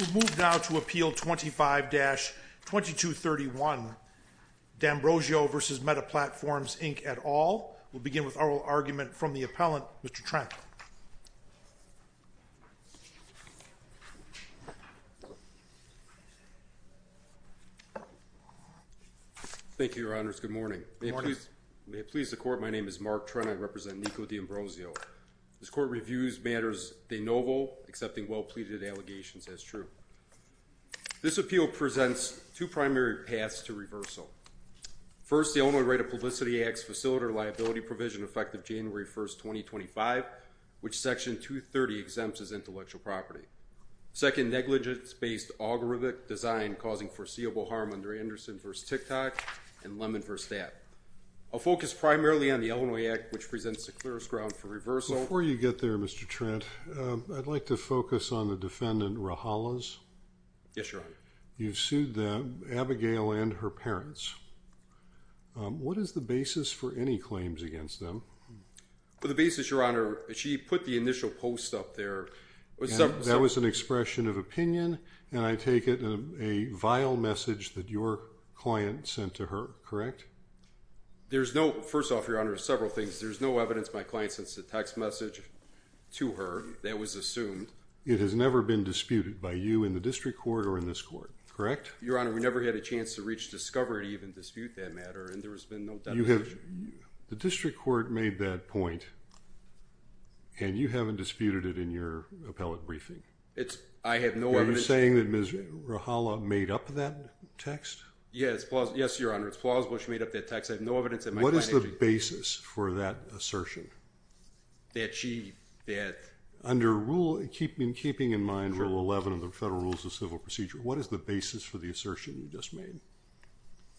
We'll move now to Appeal 25-2231, D'Ambrosio v. Meta Platforms, Inc. et al. We'll begin with oral argument from the appellant, Mr. Trent. Thank you, Your Honors. Good morning. Good morning. May it please the Court, my name is Mark Trent, I represent Nikko D'Ambrosio. This Court reviews matters de novo, accepting well-pleaded allegations as true. This appeal presents two primary paths to reversal. First, the only right of publicity acts facility liability provision effective January 1, 2025, which Section 230 exempts as intellectual property. Second, negligence-based algorithmic design causing foreseeable harm under Anderson v. Ticktock and Lemon v. Stapp. I'll focus primarily on the Illinois Act, which presents the clearest ground for reversal. Before you get there, Mr. Trent, I'd like to focus on the defendant, Rahalas. Yes, Your Honor. You've sued them, Abigail and her parents. What is the basis for any claims against them? Well, the basis, Your Honor, she put the initial post up there. That was an expression of opinion, and I take it a vile message that your client sent to her, correct? There's no, first off, Your Honor, there's several things. There's no evidence my client sent a text message to her that was assumed. It has never been disputed by you in the District Court or in this Court, correct? Your Honor, we never had a chance to reach discovery to even dispute that matter, and there has been no determination. The District Court made that point, and you haven't disputed it in your appellate briefing? I have no evidence. Are you saying that Ms. Rahala made up that text? Yes, Your Honor. It's plausible she made up that text. I have no evidence that my client did. What is the basis for that assertion? Under Rule, keeping in mind Rule 11 of the Federal Rules of Civil Procedure, what is the basis for the assertion you just made?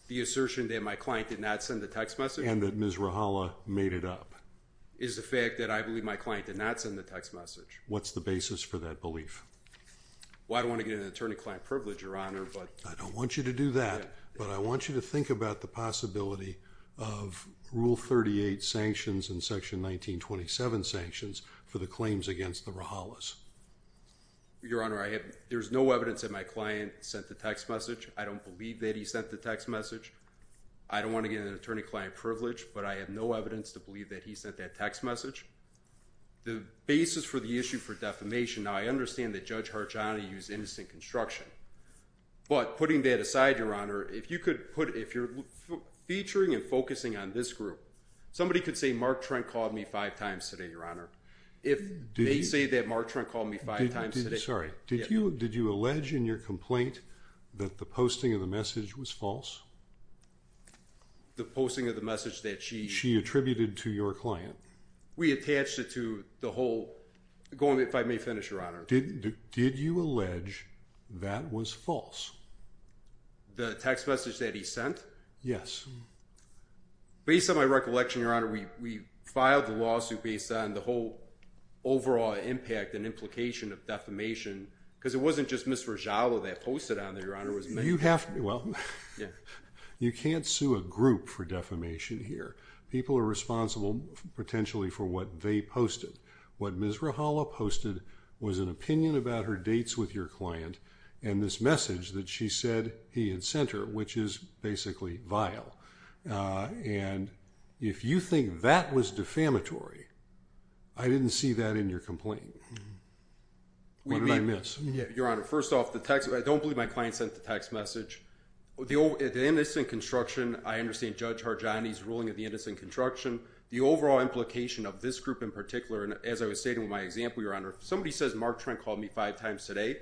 The assertion that my client did not send a text message? And that Ms. Rahala made it up? Is the fact that I believe my client did not send a text message? What's the basis for that belief? Well, I don't want to get into an attorney-client privilege, Your Honor, but... I don't want you to do that, but I want you to think about the possibility of Rule 38 sanctions and Section 1927 sanctions for the claims against the Rahalas. Your Honor, there's no evidence that my client sent a text message. I don't believe that he sent the text message. I don't want to get into an attorney-client privilege, but I have no evidence to believe that he sent that text message. The basis for the issue for defamation, now I understand that Judge Harjani used innocent construction, but putting that aside, Your Honor, if you could put... If you're featuring and focusing on this group, somebody could say Mark Trent called me five times today, Your Honor. If they say that Mark Trent called me five times today... Okay, sorry. Did you allege in your complaint that the posting of the message was false? The posting of the message that she... She attributed to your client. We attached it to the whole... Go on, if I may finish, Your Honor. Did you allege that was false? The text message that he sent? Yes. Based on my recollection, Your Honor, we filed the lawsuit based on the whole overall impact and implication of defamation, because it wasn't just Ms. Rojala that posted on there, You have... Well, you can't sue a group for defamation here. People are responsible potentially for what they posted. What Ms. Rojala posted was an opinion about her dates with your client and this message that she said he had sent her, which is basically vile. And if you think that was defamatory, I didn't see that in your complaint. What did I miss? Your Honor, first off, the text... I don't believe my client sent the text message. The innocent construction, I understand Judge Harjani's ruling of the innocent construction. The overall implication of this group, in particular, as I was stating with my example, Your Honor, if somebody says Mark Trent called me five times today,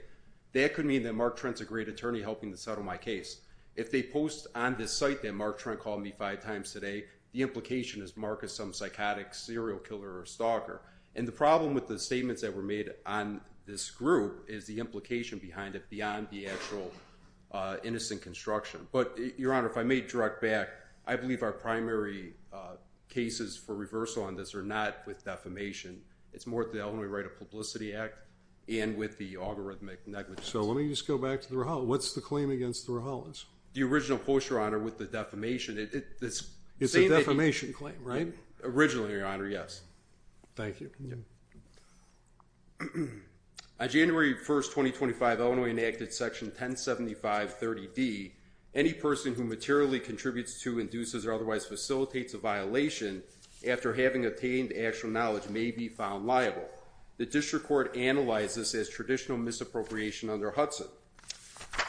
that could mean that Mark Trent's a great attorney helping to settle my case. If they post on this site that Mark Trent called me five times today, the implication is Mark is some psychotic serial killer or stalker. And the problem with the statements that were made on this group is the implication behind it beyond the actual innocent construction. But Your Honor, if I may direct back, I believe our primary cases for reversal on this are not with defamation. It's more with the Illinois Right of Publicity Act and with the algorithmic negligence. So let me just go back to the Rahal. What's the claim against the Rahal is? The original post, Your Honor, with the defamation. It's the same thing... It's a defamation claim, right? Originally, Your Honor, yes. Thank you. On January 1st, 2025, Illinois enacted Section 1075.30d, any person who materially contributes to, induces, or otherwise facilitates a violation after having obtained actual knowledge may be found liable. The district court analyzed this as traditional misappropriation under Hudson.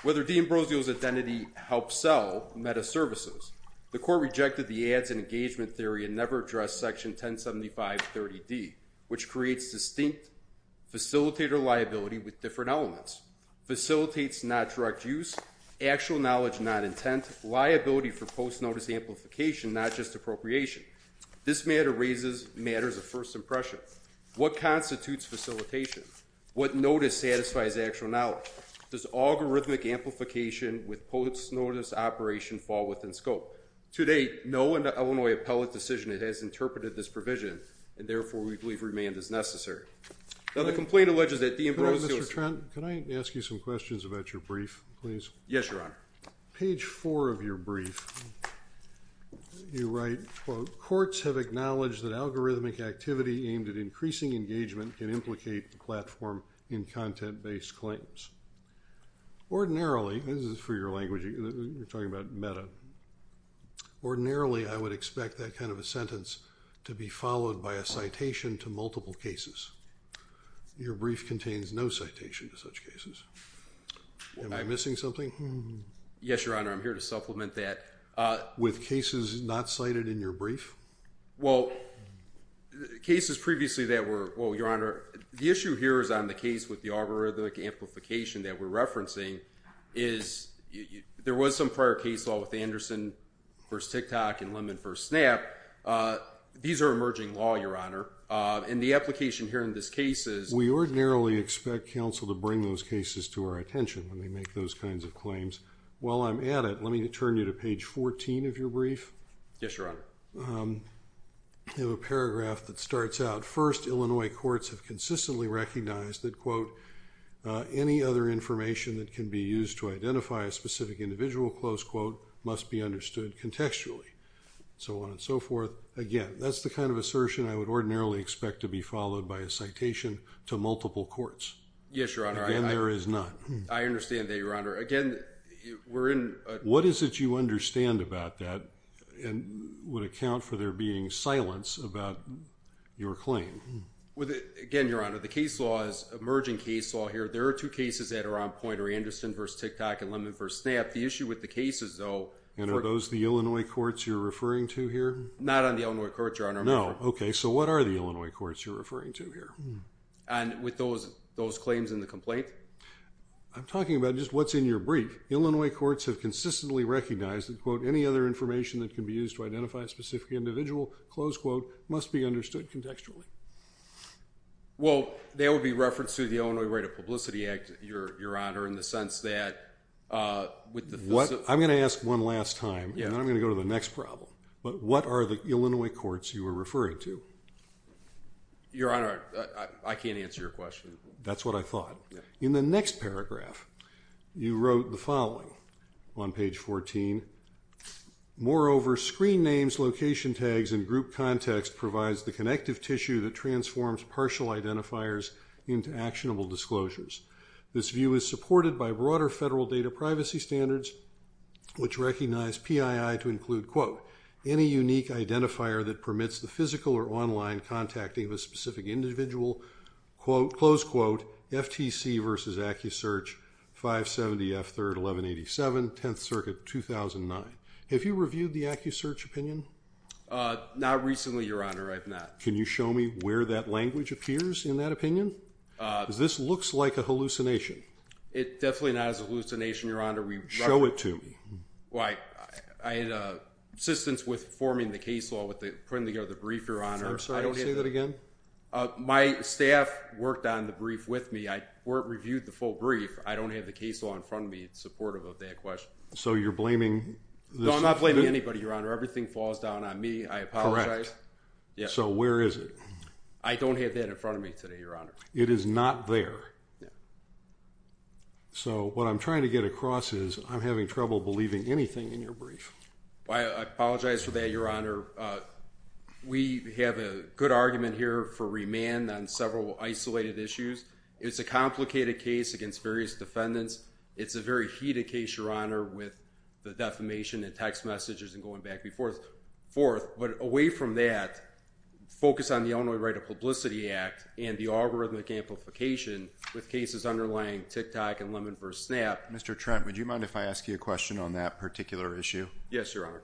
Whether Dean Brozio's identity helps sell metaservices. The court rejected the ads and engagement theory and never addressed Section 1075.30d, which creates distinct facilitator liability with different elements. Facilitates not direct use, actual knowledge not intent, liability for post-notice amplification, not just appropriation. This matter raises matters of first impression. What constitutes facilitation? What notice satisfies actual knowledge? Does algorithmic amplification with post-notice operation fall within scope? To date, no Illinois appellate decision has interpreted this provision, and therefore we believe remand is necessary. Now the complaint alleges that Dean Brozio... Mr. Trent, can I ask you some questions about your brief, please? Yes, Your Honor. Page four of your brief, you write, quote, courts have acknowledged that algorithmic activity aimed at increasing engagement can implicate the platform in content-based claims. Ordinarily, this is for your language, you're talking about meta. Ordinarily, I would expect that kind of a sentence to be followed by a citation to multiple cases. Your brief contains no citation to such cases. Am I missing something? Yes, Your Honor, I'm here to supplement that. With cases not cited in your brief? Well, cases previously that were... Well, Your Honor, the issue here is on the case with the algorithmic amplification that we're referencing, is there was some prior case law with Anderson v. TikTok and Lemon v. Snap. These are emerging law, Your Honor. And the application here in this case is... We ordinarily expect counsel to bring those cases to our attention when they make those kinds of claims. While I'm at it, let me turn you to page 14 of your brief. Yes, Your Honor. You have a paragraph that starts out, First, Illinois courts have consistently recognized that, quote, any other information that can be used to identify a specific individual, close quote, must be understood contextually. So on and so forth. Again, that's the kind of assertion I would ordinarily expect to be followed by a citation to multiple courts. Yes, Your Honor. Again, there is none. I understand that, Your Honor. Again, we're in... What is it you understand about that and would account for there being silence about your claim? Again, Your Honor, the case law is emerging case law here. There are two cases that are on point, Anderson v. TikTok and Lemon v. Snap. The issue with the cases, though... And are those the Illinois courts you're referring to here? Not on the Illinois courts, Your Honor. No. Okay. So what are the Illinois courts you're referring to here? And with those claims in the complaint? I'm talking about just what's in your brief. Illinois courts have consistently recognized that, quote, any other information that can be used to identify a specific individual, close quote, must be understood contextually. Well, that would be referenced to the Illinois Rate of Publicity Act, Your Honor, in the sense that with the... I'm going to ask one last time, and then I'm going to go to the next problem. But what are the Illinois courts you were referring to? Your Honor, I can't answer your question. That's what I thought. In the next paragraph, you wrote the following on page 14. Moreover, screen names, location tags, and group context provides the connective tissue that transforms partial identifiers into actionable disclosures. This view is supported by broader federal data privacy standards, which recognize PII to include, quote, any unique identifier that permits the physical or online contacting of a PC versus AccuSearch 570F3-1187, 10th Circuit, 2009. Have you reviewed the AccuSearch opinion? Not recently, Your Honor. I have not. Can you show me where that language appears in that opinion? Because this looks like a hallucination. It definitely not is a hallucination, Your Honor. Show it to me. Well, I had assistance with forming the case law, with putting together the brief, Your Honor. I'm sorry, say that again. My staff worked on the brief with me. I reviewed the full brief. I don't have the case law in front of me supportive of that question. So you're blaming this? No, I'm not blaming anybody, Your Honor. Everything falls down on me. I apologize. Yeah. So where is it? I don't have that in front of me today, Your Honor. It is not there. Yeah. So what I'm trying to get across is I'm having trouble believing anything in your brief. I apologize for that, Your Honor. We have a good argument here for remand on several isolated issues. It's a complicated case against various defendants. It's a very heated case, Your Honor, with the defamation and text messages and going back and forth. But away from that, focus on the Illinois Right to Publicity Act and the algorithmic amplification with cases underlying TikTok and Lemon vs. Snap. Mr. Trent, would you mind if I ask you a question on that particular issue? Yes, Your Honor.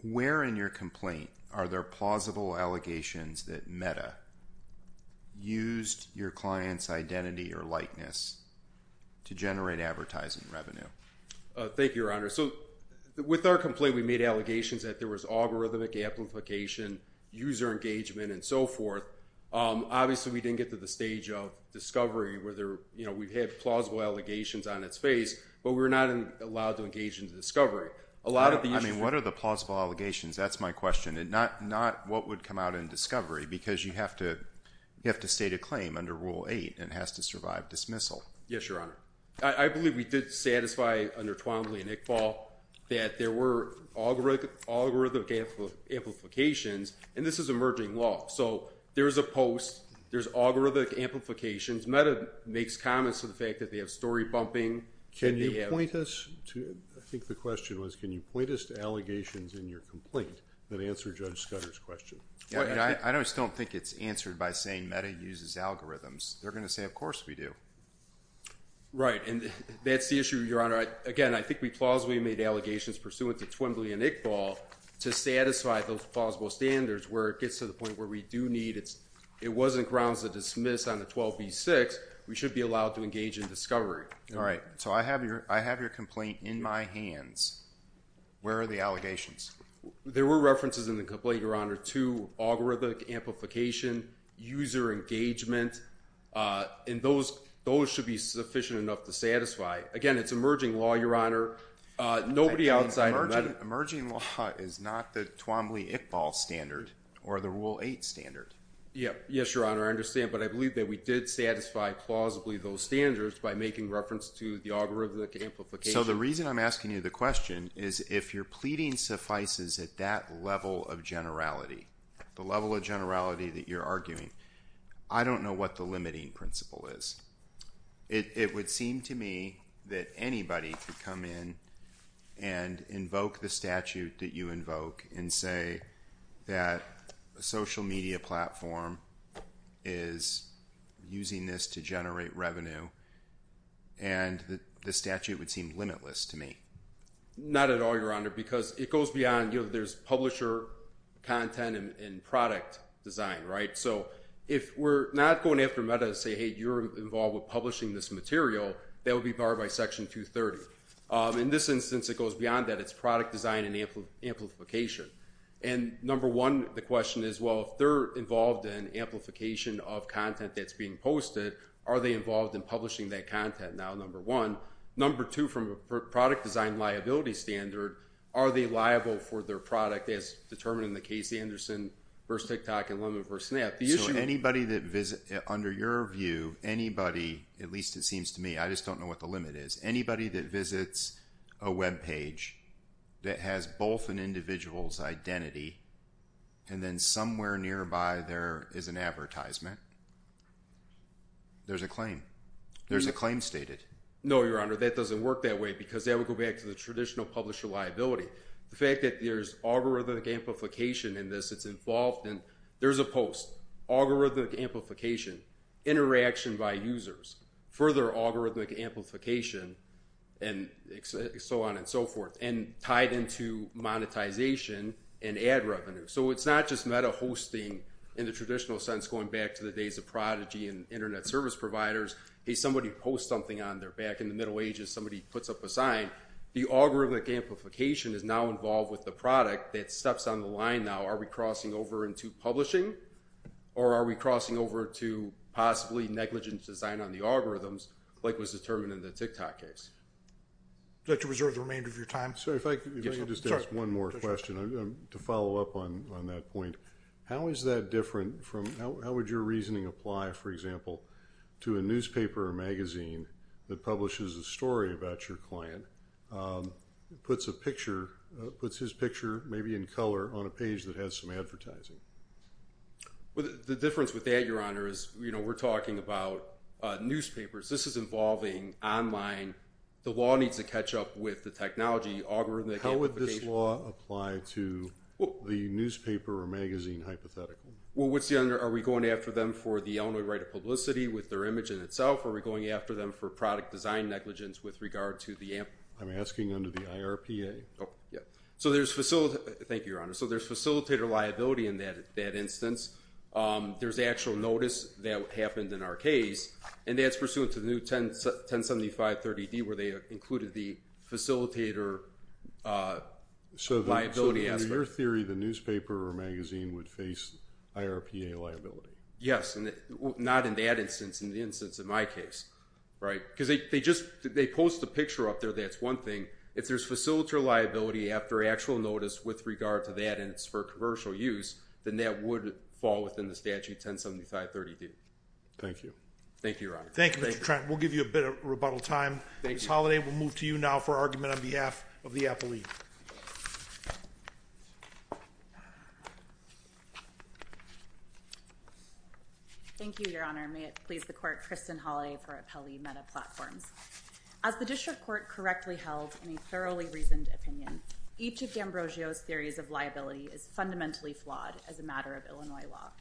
Where in your complaint are there plausible allegations that Meta used your client's identity or likeness to generate advertising revenue? Thank you, Your Honor. So with our complaint, we made allegations that there was algorithmic amplification, user engagement, and so forth. Obviously, we didn't get to the stage of discovery where we've had plausible allegations on its face, but we're not allowed to engage in the discovery. I mean, what are the plausible allegations? That's my question, and not what would come out in discovery because you have to state a claim under Rule 8 and it has to survive dismissal. Yes, Your Honor. I believe we did satisfy under Twombly and Iqbal that there were algorithmic amplifications, and this is emerging law. So there's a post, there's algorithmic amplifications. Meta makes comments to the fact that they have story bumping. Can you point us to, I think the question was, can you point us to allegations in your complaint that answer Judge Scudder's question? I just don't think it's answered by saying Meta uses algorithms. They're going to say, of course we do. Right, and that's the issue, Your Honor. Again, I think we plausibly made allegations pursuant to Twombly and Iqbal to satisfy those plausible standards where it gets to the point where we do need. It wasn't grounds to dismiss on the 12b-6. We should be allowed to engage in discovery. All right, so I have your complaint in my hands. Where are the allegations? There were references in the complaint, Your Honor, to algorithmic amplification, user engagement, and those should be sufficient enough to satisfy. Again, it's emerging law, Your Honor. Nobody outside of Meta. Emerging law is not the Twombly-Iqbal standard or the Rule 8 standard. Yes, Your Honor, I understand, but I believe that we did satisfy plausibly those standards by making reference to the algorithmic amplification. So the reason I'm asking you the question is if your pleading suffices at that level of generality, the level of generality that you're arguing, I don't know what the limiting principle is. It would seem to me that anybody could come in and invoke the statute that you invoke and say that a social media platform is using this to generate revenue, and the statute would seem limitless to me. Not at all, Your Honor, because it goes beyond, you know, there's publisher content and product design, right? So if we're not going after Meta to say, hey, you're involved with publishing this material, that would be barred by Section 230. In this instance, it goes beyond that. It's product design and amplification. And number one, the question is, well, if they're involved in amplification of content that's being posted, are they involved in publishing that content now, number one? Number two, from a product design liability standard, are they liable for their product as determined in the Casey Anderson v. TikTok and Lemon v. Snap? So anybody that visits, under your view, anybody, at least it seems to me, I just don't know what the limit is. Anybody that visits a web page that has both an individual's identity and then somewhere nearby there is an advertisement, there's a claim. There's a claim stated. No, Your Honor, that doesn't work that way because that would go back to the traditional publisher liability. The fact that there's algorithmic amplification in this, it's involved in... There's a post, algorithmic amplification, interaction by users, further algorithmic amplification, and so on and so forth, and tied into monetization and ad revenue. So it's not just meta hosting in the traditional sense going back to the days of prodigy and Internet service providers. Hey, somebody posts something on their back. In the Middle Ages, somebody puts up a sign. The algorithmic amplification is now involved with the product that steps on the line now. Are we crossing over into publishing or are we crossing over to possibly negligent design on the algorithms like was determined in the TikTok case? Would you like to reserve the remainder of your time? Sir, if I could just ask one more question to follow up on that point. How is that different from... How would your reasoning apply, for example, to a newspaper or magazine that publishes a story about your client, puts a picture, puts his picture maybe in color on a page that has some advertising? The difference with that, Your Honor, is we're talking about newspapers. This is involving online. The law needs to catch up with the technology. How would this law apply to the newspaper or magazine hypothetical? Well, are we going after them for the only right of publicity with their image in itself, or are we going after them for product design negligence with regard to the... I'm asking under the IRPA. Thank you, Your Honor. So there's facilitator liability in that instance. There's actual notice that happened in our case, and that's pursuant to the new 107530D where they included the facilitator liability aspect. So in your theory, the newspaper or magazine would face IRPA liability? Yes, not in that instance. In the instance in my case, right? Because they just post a picture up there. That's one thing. If there's facilitator liability after actual notice with regard to that, and it's for commercial use, then that would fall within the statute 107530D. Thank you. Thank you, Your Honor. Thank you, Mr. Trent. We'll give you a bit of rebuttal time. Ms. Holliday, we'll move to you now for argument on behalf of the appellee. Thank you, Your Honor. May it please the court, Kristen Holliday for Appellee Meta Platforms. As the district court correctly held in a thoroughly reasoned opinion, each of D'Ambrosio's theories of liability is fundamentally flawed as a matter of Illinois law.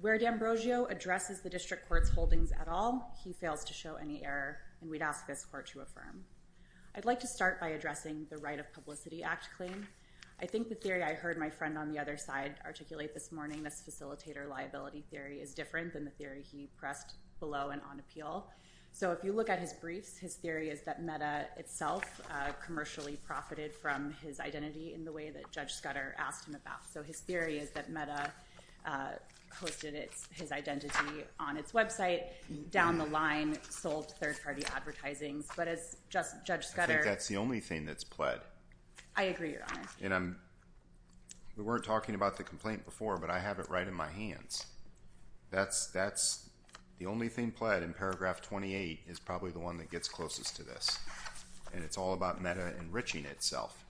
Where D'Ambrosio addresses the district court's holdings at all, he fails to show any error, and we'd ask this court to affirm. I'd like to start by addressing the Right of Publicity Act claim. I think the theory I heard my friend on the other side articulate this morning, this facilitator liability theory, is different than the theory he pressed below and on appeal. So if you look at his briefs, his theory is that Meta itself commercially profited from his identity in the way that Judge Scudder asked him about. So his theory is that Meta posted his identity on its website, down the line sold third-party advertising. But as Judge Scudder... I think that's the only thing that's pled. I agree, Your Honor. We weren't talking about the complaint before, but I have it right in my hands. That's the only thing pled, and paragraph 28 is probably the one that gets closest to this. And it's all about Meta enriching itself.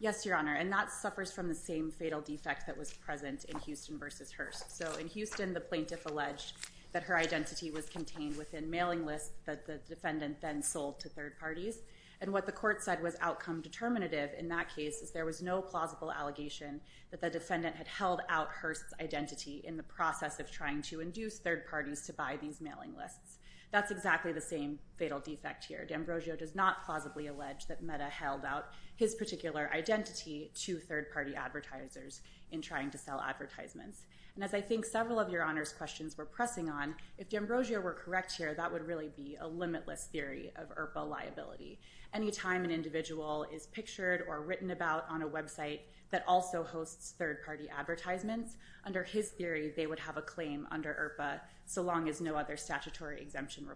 Yes, Your Honor, and that suffers from the same fatal defect that was present in Houston v. Hearst. So in Houston, the plaintiff alleged that her identity was contained within mailing lists that the defendant then sold to third parties. And what the court said was outcome determinative in that case is there was no plausible allegation that the defendant had held out Hearst's identity in the process of trying to induce third parties to buy these mailing lists. That's exactly the same fatal defect here. D'Ambrosio does not plausibly allege that Meta held out his particular identity to third-party advertisers in trying to sell advertisements. And as I think several of Your Honor's questions were pressing on, if D'Ambrosio were correct here, that would really be a limitless theory of IRPA liability. Any time an individual is pictured or written about on a website that also hosts third-party advertisements, under his theory, they would have a claim under IRPA so long as no other statutory exemption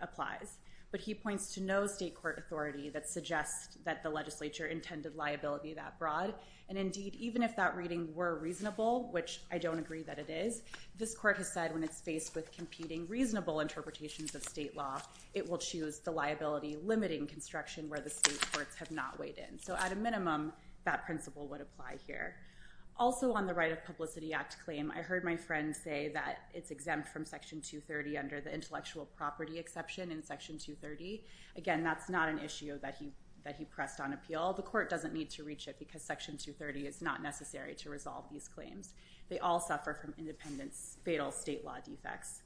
applies. But he points to no state court authority that suggests that the legislature intended liability that broad. And indeed, even if that reading were reasonable, which I don't agree that it is, this court has said when it's faced with competing reasonable interpretations of state law, it will choose the liability limiting construction where the state courts have not weighed in. So at a minimum, that principle would apply here. Also on the Right of Publicity Act claim, I heard my friend say that it's exempt from Section 230 under the intellectual property exception in Section 230. Again, that's not an issue that he pressed on appeal. The court doesn't need to reach it because Section 230 is not necessary to resolve these claims. They all suffer from independent fatal state law defects.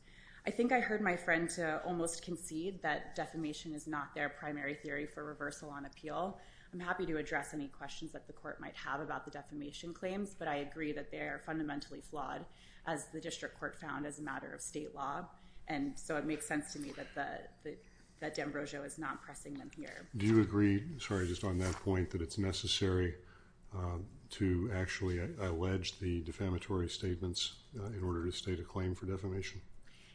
I think I heard my friend almost concede that defamation is not their primary theory for reversal on appeal. I'm happy to address any questions that the court might have about the defamation claims, but I agree that they are fundamentally flawed, as the district court found as a matter of state law, and so it makes sense to me that D'Ambrosio is not pressing them here. Do you agree, sorry, just on that point, that it's necessary to actually allege the defamatory statements in order to state a claim for defamation?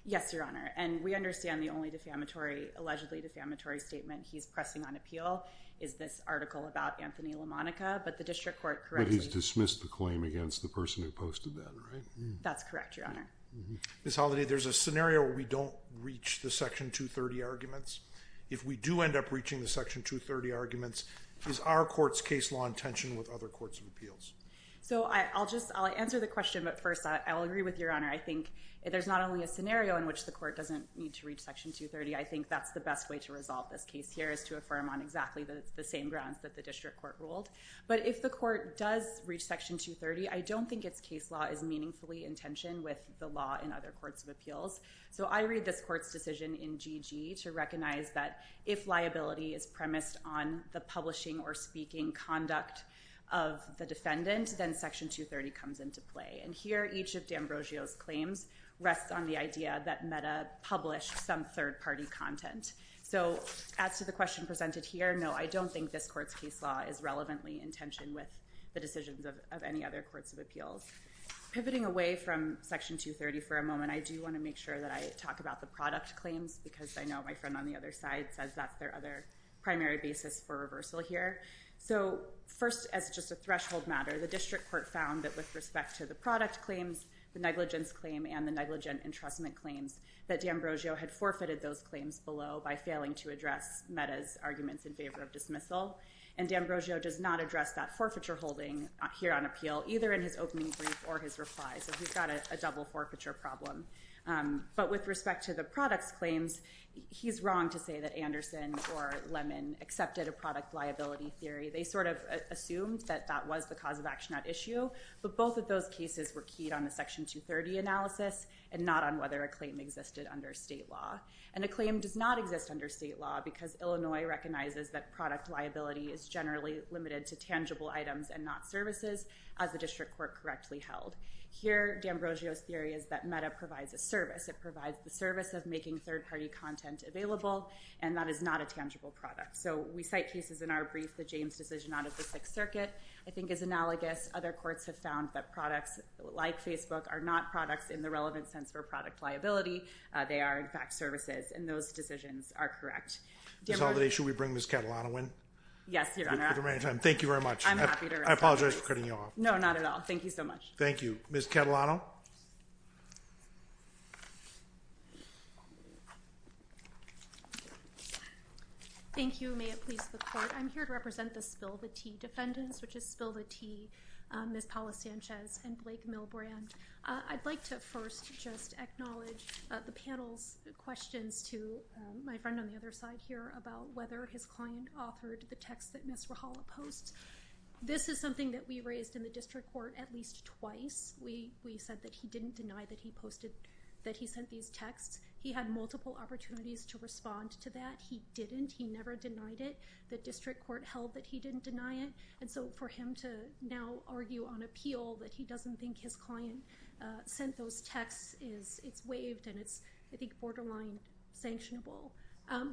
Yes, Your Honor, and we understand the only defamatory, allegedly defamatory statement he's pressing on appeal is this article about Anthony LaMonica, but the district court correctly... Has dismissed the claim against the person who posted that, right? That's correct, Your Honor. Ms. Holliday, there's a scenario where we don't reach the Section 230 arguments. If we do end up reaching the Section 230 arguments, is our court's case law in tension with other courts of appeals? So I'll answer the question, but first I'll agree with Your Honor. I think there's not only a scenario in which the court doesn't need to reach Section 230. I think that's the best way to resolve this case here is to affirm on exactly the same grounds that the district court ruled, but if the court does reach Section 230, I don't think its case law is meaningfully in tension with the law in other courts of appeals. So I read this court's decision in GG to recognize that if liability is premised on the publishing or speaking conduct of the defendant, then Section 230 comes into play, and here each of D'Ambrosio's claims rests on the idea that Meta published some third-party content. So as to the question presented here, no, I don't think this court's case law is relevantly in tension with the decisions of any other courts of appeals. Pivoting away from Section 230 for a moment, I do want to make sure that I talk about the product claims because I know my friend on the other side says that's their other primary basis for reversal here. So first, as just a threshold matter, the district court found that with respect to the product claims, the negligence claim, and the negligent entrustment claims, that D'Ambrosio had forfeited those claims below by failing to address Meta's arguments in favor of dismissal. And D'Ambrosio does not address that forfeiture holding here on appeal, either in his opening brief or his reply, so he's got a double forfeiture problem. But with respect to the products claims, he's wrong to say that Anderson or Lemon accepted a product liability theory. They sort of assumed that that was the cause of action at issue, but both of those cases were keyed on the Section 230 analysis and not on whether a claim existed under state law. And a claim does not exist under state law because Illinois recognizes that product liability is generally limited to tangible items and not services, as the district court correctly held. Here, D'Ambrosio's theory is that Meta provides a service. It provides the service of making third-party content available, and that is not a tangible product. So we cite cases in our brief, the James decision out of the Sixth Circuit, I think is analogous. Other courts have found that products like Facebook are not products in the relevant sense for product liability. They are, in fact, services, and those decisions are correct. Ms. Haldane, should we bring Ms. Catalano in? Yes, Your Honor. Thank you very much. I'm happy to. I apologize for cutting you off. No, not at all. Thank you so much. Thank you. Ms. Catalano? Thank you. May it please the court. I'm here to represent the spill-the-tea defendants, which is spill-the-tea Ms. Paula Sanchez and Blake Milbrand. I'd like to first just acknowledge the panel's questions to my friend on the other side here about whether his client authored the text that Ms. Rahala posts. This is something that we raised in the district court at least twice. We said that he didn't deny that he sent these texts. He had multiple opportunities to respond to that. He didn't. He never denied it. The district court held that he didn't deny it, and so for him to now argue on appeal that he doesn't think his client sent those texts, it's waived and it's, I think, borderline sanctionable.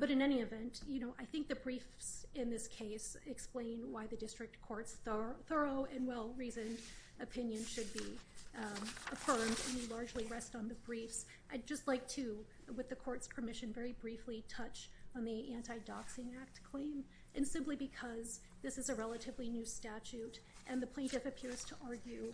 But in any event, I think the briefs in this case explain why the district court's thorough and well-reasoned opinion should be affirmed, and they largely rest on the briefs. I'd just like to, with the court's permission, very briefly touch on the Anti-Doxing Act claim, and simply because this is a relatively new statute and the plaintiff appears to argue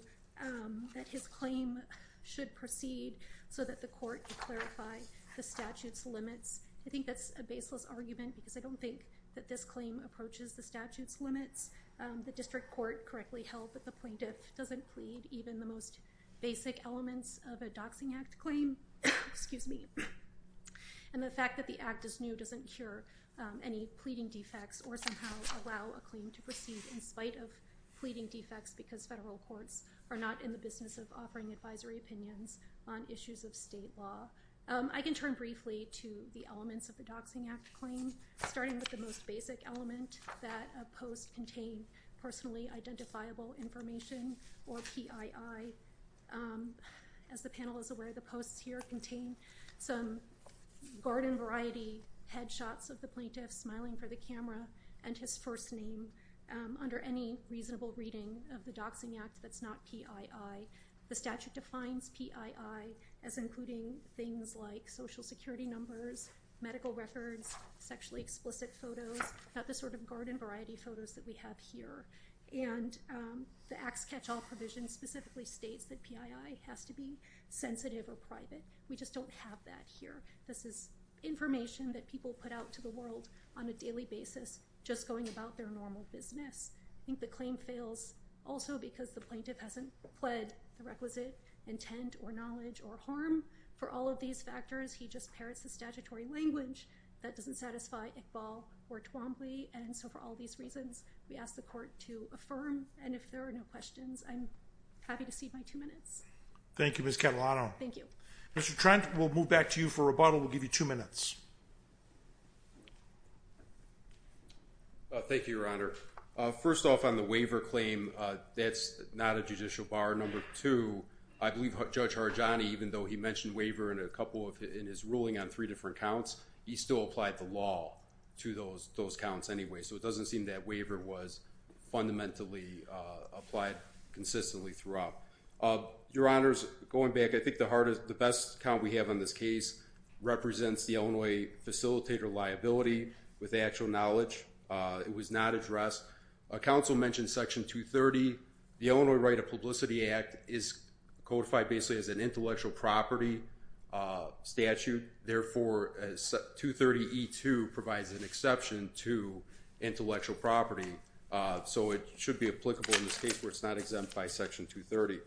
that his claim should proceed so that the court could clarify the statute's limits. I think that's a baseless argument because I don't think that this claim approaches the statute's limits. The district court correctly held that the plaintiff doesn't plead even the most basic elements of a Doxing Act claim. Excuse me. And the fact that the act is new doesn't cure any pleading defects or somehow allow a claim to proceed in spite of pleading defects because federal courts are not in the business of offering advisory opinions on issues of state law. I can turn briefly to the elements of the Doxing Act claim, starting with the most basic element, that a post contained personally identifiable information, or PII. As the panel is aware, the posts here contain some garden-variety headshots of the plaintiff smiling for the camera and his first name under any reasonable reading of the Doxing Act that's not PII. The statute defines PII as including things like social security numbers, medical records, sexually explicit photos, not the sort of garden-variety photos that we have here. And the Acts Catch All provision specifically states that PII has to be sensitive or private. We just don't have that here. This is information that people put out to the world on a daily basis, just going about their normal business. I think the claim fails also because the plaintiff hasn't pled the requisite intent or knowledge or harm. For all of these factors, he just parrots the statutory language that doesn't satisfy Iqbal or Twombly. And so for all these reasons, we ask the court to affirm. And if there are no questions, I'm happy to cede my two minutes. Thank you, Ms. Catalano. Thank you. Mr. Trent, we'll move back to you for rebuttal. We'll give you two minutes. Thank you, Your Honor. First off, on the waiver claim, that's not a judicial bar. Number two, I believe Judge Harjani, even though he mentioned waiver in his ruling on three different counts, he still applied the law to those counts anyway. So it doesn't seem that waiver was fundamentally applied consistently throughout. Your Honors, going back, I think the best count we have on this case represents the Illinois facilitator liability with actual knowledge. It was not addressed. Council mentioned Section 230. The Illinois Right of Publicity Act is codified basically as an intellectual property statute. Therefore, 230E2 provides an exception to intellectual property. So it should be applicable in this case where it's not exempt by Section 230.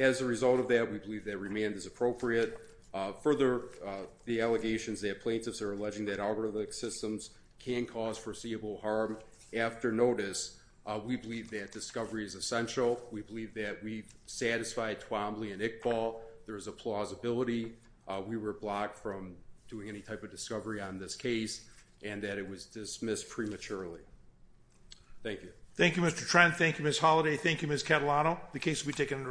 As a result of that, we believe that remand is appropriate. Further, the allegations that plaintiffs are alleging that algorithmic systems can cause foreseeable harm after notice, we believe that discovery is essential. We believe that we've satisfied Twombly and Iqbal. There's a plausibility we were blocked from doing any type of discovery on this case and that it was dismissed prematurely. Thank you. Thank you, Mr. Trent. Thank you, Ms. Holiday. Thank you, Ms. Catalano. The case will be taken under advisement.